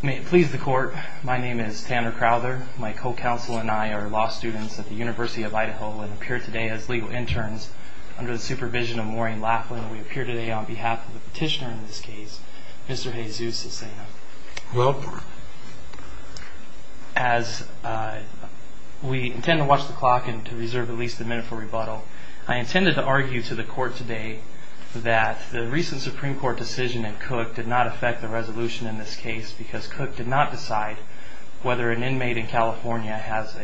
May it please the court, my name is Tanner Crowther, my co-counsel and I are law students at the University of Idaho and appear today as legal interns under the supervision of Maureen Laughlin and we appear today on behalf of the petitioner in this case, Mr. Jesus Cecena. As we intend to watch the clock and to reserve at least a minute for rebuttal, I intended to argue to the court today that the recent Supreme Court decision in Cook did not affect the resolution in this case because Cook did not decide whether an inmate in California has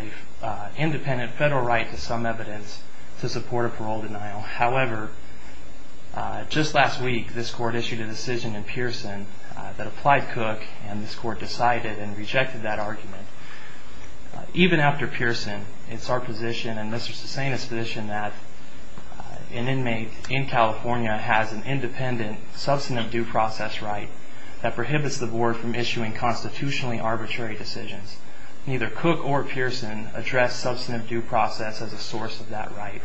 an independent federal right to some evidence to support a parole denial. However, just last week this court issued a decision in Pearson that applied Cook and this court decided and rejected that argument. Even after Pearson, it's our position and Mr. Cecena's position that an inmate in California has an independent substantive due process right that prohibits the board from issuing constitutionally arbitrary decisions. Neither Cook or Pearson addressed substantive due process as a source of that right.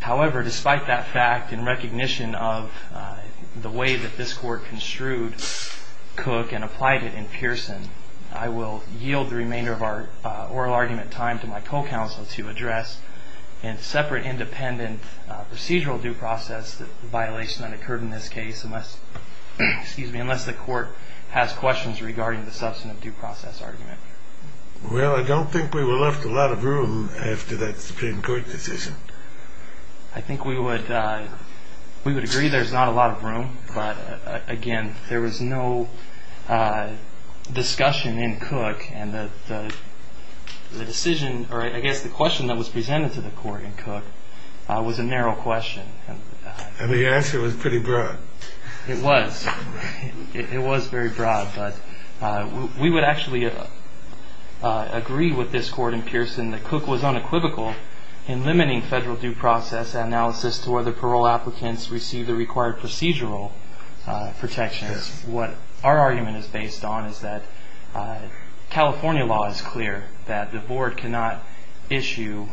However, despite that fact, in recognition of the way that this court construed Cook and applied it in Pearson, I will yield the remainder of our oral argument time to my co-counsel to address in separate independent procedural due process the violation that occurred in this case unless the court has questions regarding the substantive due process argument. Well, I don't think we were left a lot of room after that Supreme Court decision. I think we would agree there's not a lot of room, but again, there was no discussion in Cook and the decision or I guess the question that was presented to the court in Cook was a narrow question. And the answer was pretty broad. It was very broad, but we would actually agree with this court in Pearson that Cook was unequivocal in limiting federal due process analysis to where the parole applicants receive the required procedural protections. What our argument is based on is that California law is clear that the board cannot issue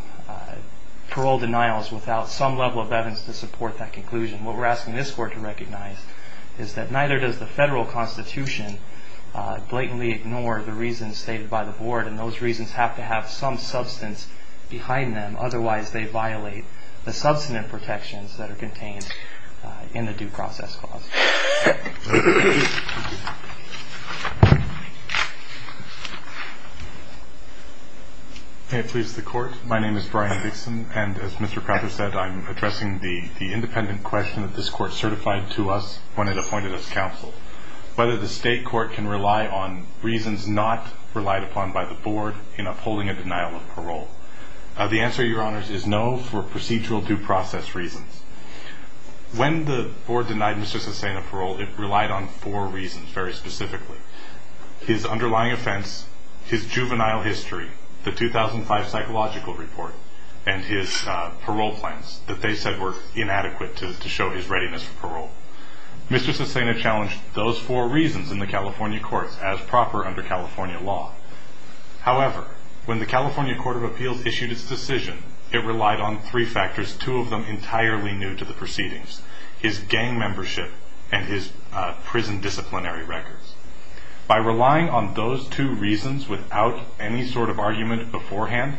parole denials without some level of evidence to support that conclusion. What we're asking this court to recognize is that neither does the federal constitution blatantly ignore the reasons stated by the board, and those reasons have to have some substance behind them. Otherwise, they violate the substantive protections that are contained in the due process clause. May it please the court. My name is Brian Dixon, and as Mr. Crowther said, I'm addressing the independent question that this court certified to us when it appointed us counsel. Whether the state court can rely on reasons not relied upon by the board in upholding a denial of parole. The answer, Your Honors, is no for procedural due process reasons. When the board denied Mr. Susena parole, it relied on four reasons very specifically. His underlying offense, his juvenile history, the 2005 psychological report, and his parole plans that they said were inadequate to show his readiness for parole. Mr. Susena challenged those four reasons in the California courts as proper under California law. However, when the California Court of Appeals issued its decision, it relied on three factors, two of them entirely new to the proceedings. His gang membership and his prison disciplinary records. By relying on those two reasons without any sort of argument beforehand,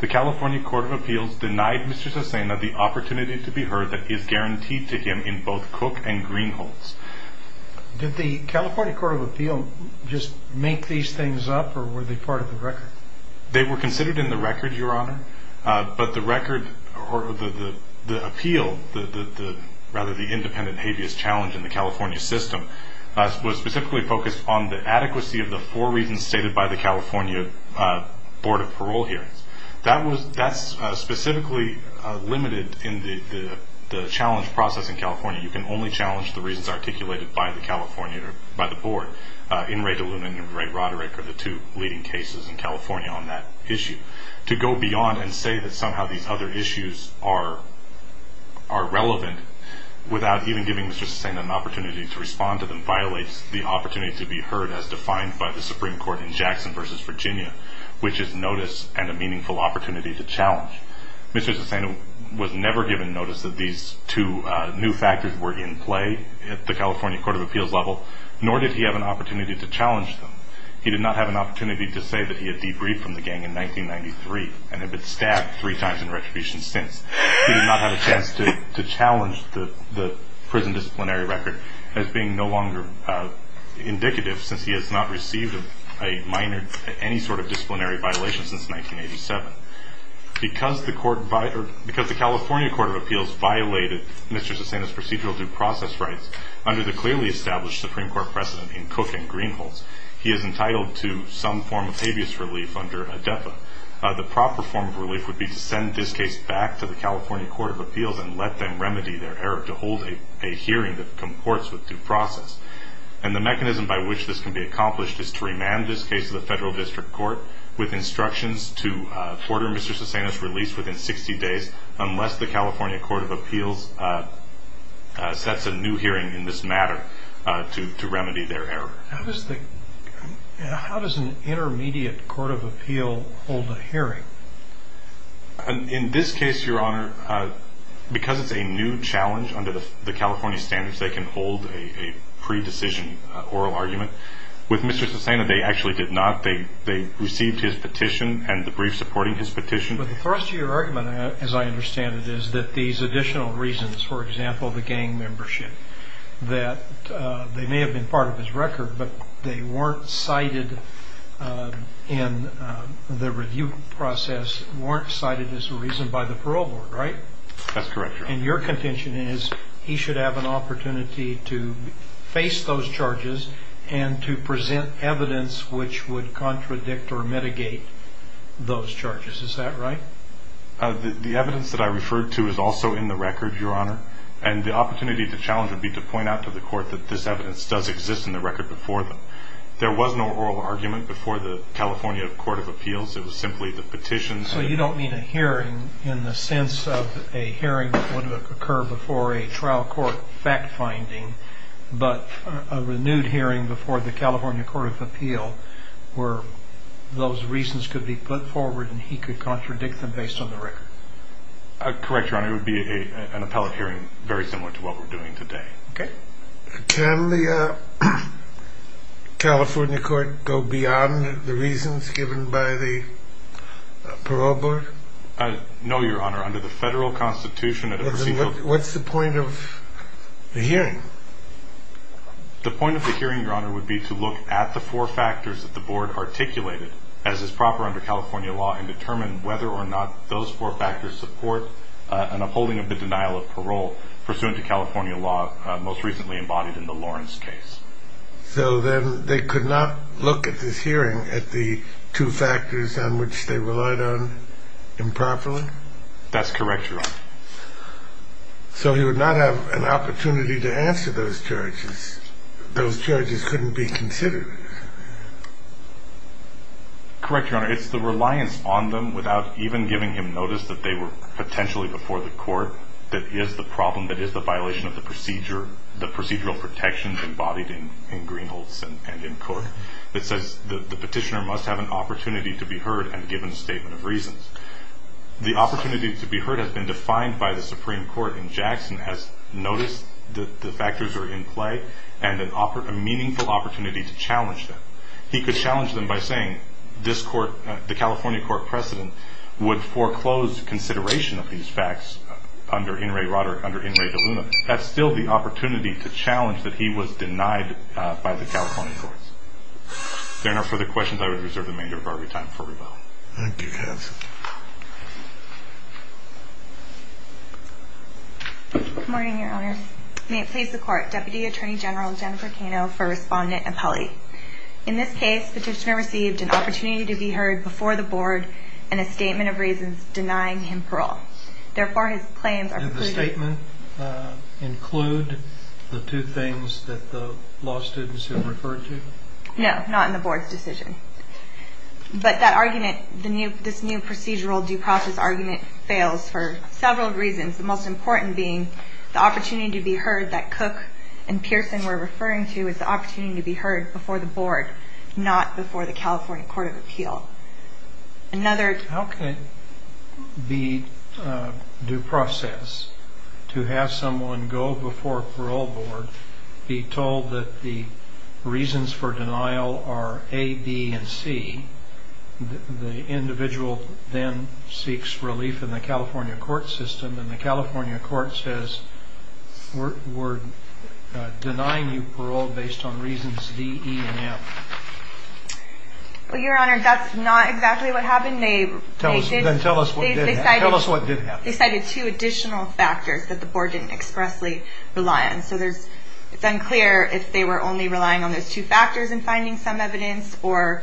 the California Court of Appeals denied Mr. Susena the opportunity to be heard that is guaranteed to him in both Cook and Greenholds. Did the California Court of Appeals just make these things up or were they part of the record? They were considered in the record, Your Honor, but the record or the appeal, rather the independent habeas challenge in the California system, was specifically focused on the adequacy of the four reasons stated by the California Board of Parole Hearings. That's specifically limited in the challenge process in California. You can only challenge the reasons articulated by the California or by the board. In re delumenum, Ray Roderick are the two leading cases in California on that issue. To go beyond and say that somehow these other issues are relevant without even giving Mr. Susena an opportunity to respond to them Mr. Susena was never given notice that these two new factors were in play at the California Court of Appeals level, nor did he have an opportunity to challenge them. He did not have an opportunity to say that he had debriefed from the gang in 1993 and had been stabbed three times in retribution since. He did not have a chance to challenge the prison disciplinary record as being no longer indicative since he has not received a minor, any sort of disciplinary violation since 1987. Because the California Court of Appeals violated Mr. Susena's procedural due process rights, under the clearly established Supreme Court precedent in Cook and Greenholtz, he is entitled to some form of habeas relief under ADEPA. The proper form of relief would be to send this case back to the California Court of Appeals and let them remedy their error to hold a hearing that comports with due process. The mechanism by which this can be accomplished is to remand this case to the federal district court with instructions to order Mr. Susena's release within 60 days, unless the California Court of Appeals sets a new hearing in this matter to remedy their error. How does an intermediate court of appeal hold a hearing? In this case, Your Honor, because it's a new challenge under the California standards, they can hold a pre-decision oral argument. With Mr. Susena, they actually did not. They received his petition and debrief supporting his petition. But the thrust of your argument, as I understand it, is that these additional reasons, for example, the gang membership, that they may have been part of his record, but they weren't cited in the review process, weren't cited as a reason by the parole board, right? That's correct, Your Honor. And your contention is he should have an opportunity to face those charges and to present evidence which would contradict or mitigate those charges. Is that right? The evidence that I referred to is also in the record, Your Honor. And the opportunity to challenge would be to point out to the court that this evidence does exist in the record before them. There was no oral argument before the California Court of Appeals. It was simply the petitions. So you don't mean a hearing in the sense of a hearing that would occur before a trial court fact-finding, but a renewed hearing before the California Court of Appeals where those reasons could be put forward and he could contradict them based on the record? Correct, Your Honor. It would be an appellate hearing very similar to what we're doing today. Okay. Can the California Court go beyond the reasons given by the parole board? No, Your Honor. Under the federal constitution... What's the point of the hearing? The point of the hearing, Your Honor, would be to look at the four factors that the board articulated as is proper under California law and determine whether or not those four factors support an upholding of the denial of parole pursuant to California law, most recently embodied in the Lawrence case. So then they could not look at this hearing at the two factors on which they relied on improperly? That's correct, Your Honor. So he would not have an opportunity to answer those charges? Those charges couldn't be considered? Correct, Your Honor. It's the reliance on them without even giving him notice that they were potentially before the court that is the problem, that is the violation of the procedural protections embodied in Greenholds and in court. It says the petitioner must have an opportunity to be heard and given a statement of reasons. The opportunity to be heard has been defined by the Supreme Court, and Jackson has noticed that the factors are in play and a meaningful opportunity to challenge them. He could challenge them by saying this court, the California court precedent, would foreclose consideration of these facts under In re Roderick, under In re DeLuna. That's still the opportunity to challenge that he was denied by the California courts. If there are no further questions, I would reserve the remainder of our time for rebuttal. Thank you, counsel. Good morning, Your Honors. May it please the court, Deputy Attorney General Jennifer Cano for Respondent and Pelley. In this case, petitioner received an opportunity to be heard before the board and a statement of reasons denying him parole. Therefore, his claims are precluded. Did the statement include the two things that the law students had referred to? No, not in the board's decision. But that argument, this new procedural due process argument, fails for several reasons, the most important being the opportunity to be heard that Cook and Pearson were referring to is the opportunity to be heard before the board, not before the California Court of Appeal. How can it be due process to have someone go before a parole board, be told that the reasons for denial are A, B, and C, the individual then seeks relief in the California court system, and the California court says we're denying you parole based on reasons D, E, and M? Well, Your Honor, that's not exactly what happened. Then tell us what did happen. They cited two additional factors that the board didn't expressly rely on. So it's unclear if they were only relying on those two factors in finding some evidence or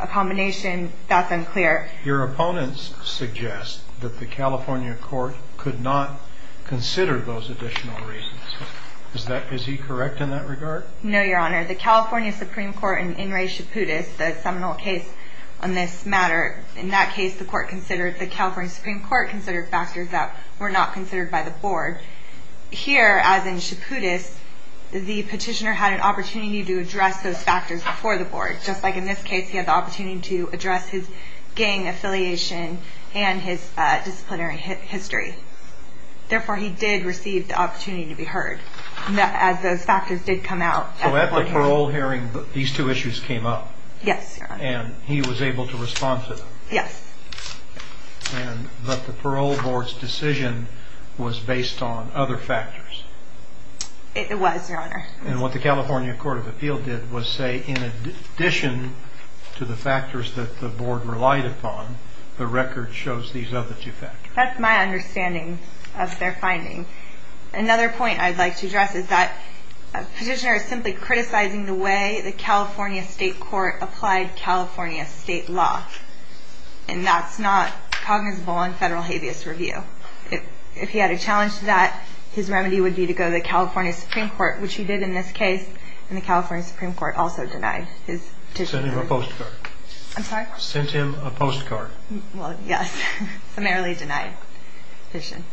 a combination. That's unclear. Your opponents suggest that the California court could not consider those additional reasons. Is he correct in that regard? No, Your Honor. The California Supreme Court in In re Chaputis, the seminal case on this matter, in that case, the California Supreme Court considered factors that were not considered by the board. Here, as in Chaputis, the petitioner had an opportunity to address those factors before the board. Just like in this case, he had the opportunity to address his gang affiliation and his disciplinary history. Therefore, he did receive the opportunity to be heard as those factors did come out. So at the parole hearing, these two issues came up? Yes, Your Honor. And he was able to respond to them? Yes. But the parole board's decision was based on other factors? It was, Your Honor. And what the California Court of Appeal did was say, in addition to the factors that the board relied upon, the record shows these other two factors. That's my understanding of their finding. Another point I'd like to address is that a petitioner is simply criticizing the way the California State Court applied California state law. And that's not cognizable in federal habeas review. If he had a challenge to that, his remedy would be to go to the California Supreme Court, which he did in this case, and the California Supreme Court also denied his petition. Sent him a postcard. I'm sorry? Sent him a postcard. Well, yes, summarily denied his petition.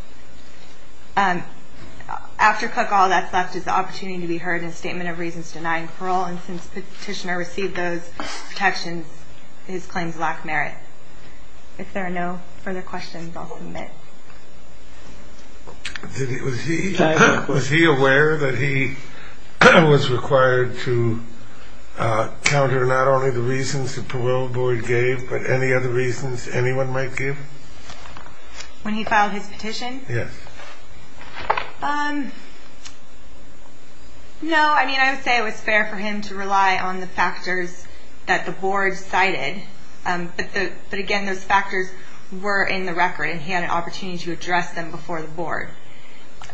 After Cook, all that's left is the opportunity to be heard in a statement of reasons denying parole, and since the petitioner received those protections, his claims lack merit. If there are no further questions, I'll submit. Was he aware that he was required to counter not only the reasons the parole board gave, but any other reasons anyone might give? When he filed his petition? Yes. No, I mean, I would say it was fair for him to rely on the factors that the board cited. But, again, those factors were in the record, and he had an opportunity to address them before the board.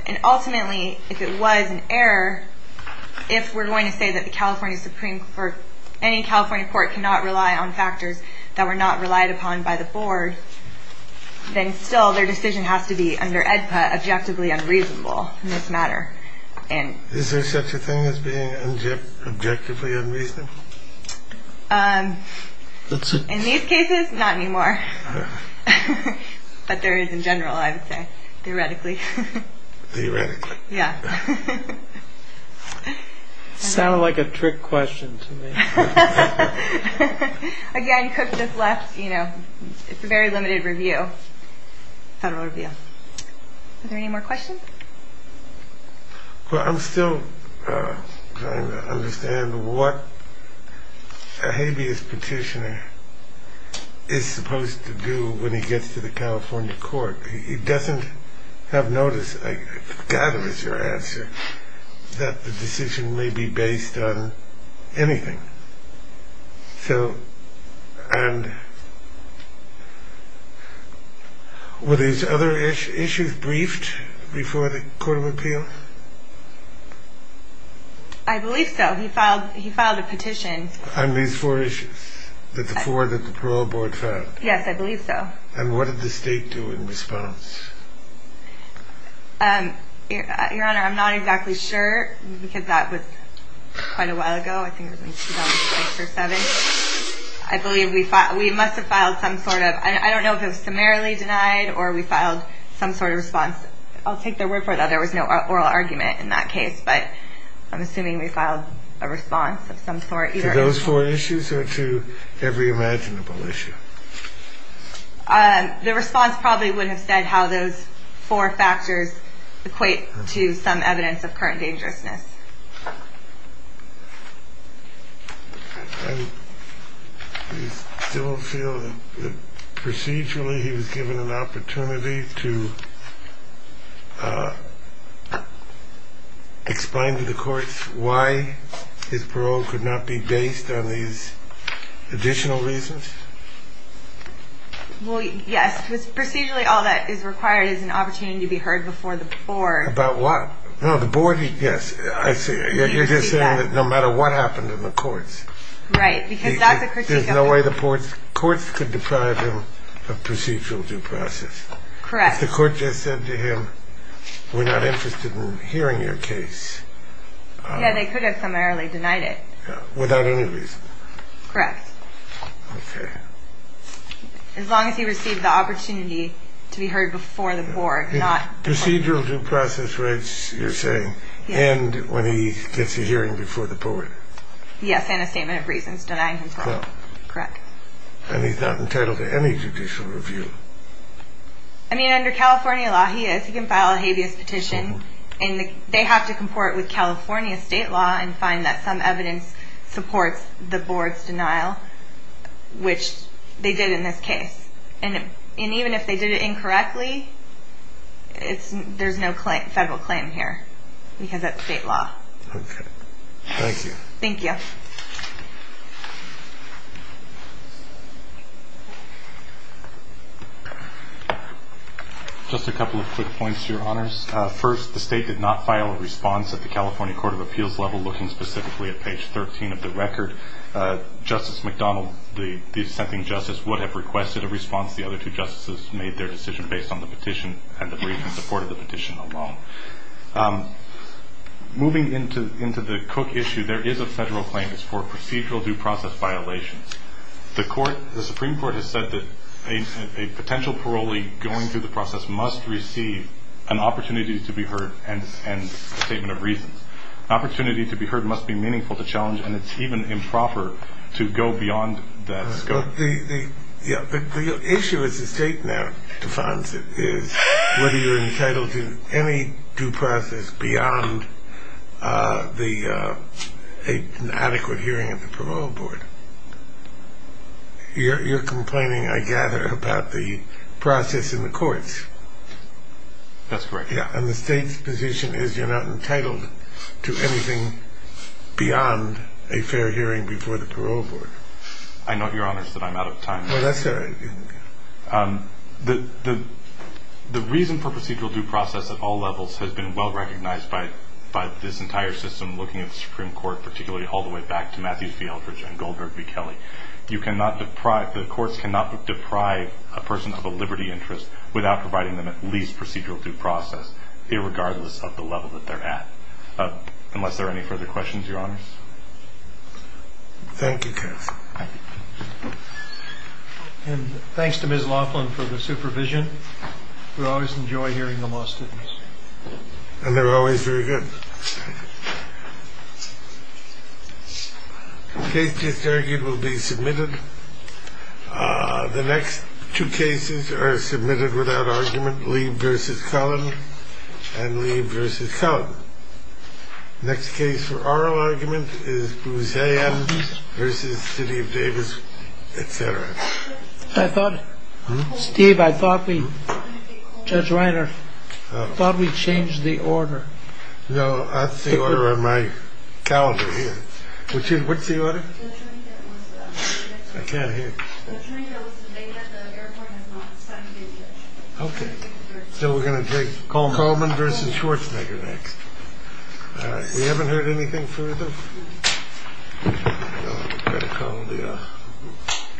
And ultimately, if it was an error, if we're going to say that the California Supreme Court or any California court cannot rely on factors that were not relied upon by the board, then still their decision has to be under AEDPA objectively unreasonable in this matter. Is there such a thing as being objectively unreasonable? In these cases, not anymore. But there is in general, I would say, theoretically. Theoretically. Yeah. Sounded like a trick question to me. Again, Cook just left, you know, it's a very limited review, federal review. Are there any more questions? Well, I'm still trying to understand what a habeas petitioner is supposed to do when he gets to the California court. He doesn't have notice, I forgot it was your answer, that the decision may be based on anything. So, and were these other issues briefed before the court of appeals? I believe so. He filed a petition. On these four issues, the four that the parole board filed? Yes, I believe so. And what did the state do in response? Your Honor, I'm not exactly sure, because that was quite a while ago, I think it was in 2007. I believe we must have filed some sort of, I don't know if it was summarily denied or we filed some sort of response. I'll take their word for it that there was no oral argument in that case, but I'm assuming we filed a response of some sort. To those four issues or to every imaginable issue? The response probably would have said how those four factors equate to some evidence of current dangerousness. Do you still feel that procedurally he was given an opportunity to explain to the courts why his parole could not be based on these additional reasons? Well, yes, procedurally all that is required is an opportunity to be heard before the board. About what? No, the board, yes. I see. You're just saying that no matter what happened in the courts. Right, because that's a critique. There's no way the courts could deprive him of procedural due process. Correct. If the court just said to him, we're not interested in hearing your case. Yeah, they could have summarily denied it. Without any reason. Correct. Okay. As long as he received the opportunity to be heard before the board, not... Procedural due process rights, you're saying, end when he gets a hearing before the board. Yes, and a statement of reasons denying his parole. Correct. And he's not entitled to any judicial review. I mean, under California law, he is. He can file a habeas petition. And they have to comport with California state law and find that some evidence supports the board's denial, which they did in this case. And even if they did it incorrectly, there's no federal claim here because that's state law. Okay. Thank you. Thank you. Just a couple of quick points, Your Honors. First, the state did not file a response at the California Court of Appeals level looking specifically at page 13 of the record. Justice McDonald, the dissenting justice, would have requested a response. The other two justices made their decision based on the petition and the brief in support of the petition alone. Moving into the Cook issue, there is a federal claim for procedural due process violations. The Supreme Court has said that a potential parolee going through the process must receive an opportunity to be heard and a statement of reasons. Opportunity to be heard must be meaningful to challenge, and it's even improper to go beyond that scope. The issue, as the state now defines it, is whether you're entitled to any due process beyond an adequate hearing of the Parole Board. You're complaining, I gather, about the process in the courts. That's correct. And the state's position is you're not entitled to anything beyond a fair hearing before the Parole Board. I note, Your Honors, that I'm out of time. Well, that's all right. The reason for procedural due process at all levels has been well recognized by this entire system looking at the Supreme Court, particularly all the way back to Matthews v. Eldridge and Goldberg v. Kelly. The courts cannot deprive a person of a liberty interest without providing them at least procedural due process, irregardless of the level that they're at. Unless there are any further questions, Your Honors? Thank you, Keith. And thanks to Ms. Laughlin for the supervision. We always enjoy hearing the law students. And they're always very good. The case just argued will be submitted. The next two cases are submitted without argument. Lee v. Cullen and Lee v. Cullen. Next case for oral argument is Bruzean v. City of Davis, etc. I thought, Steve, I thought we, Judge Reiner, I thought we changed the order. No, that's the order on my calendar here. What's the order? I can't hear. Okay. So we're going to take Coleman v. Schwarzenegger next. We haven't heard anything further? I'm going to call the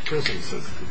prison system.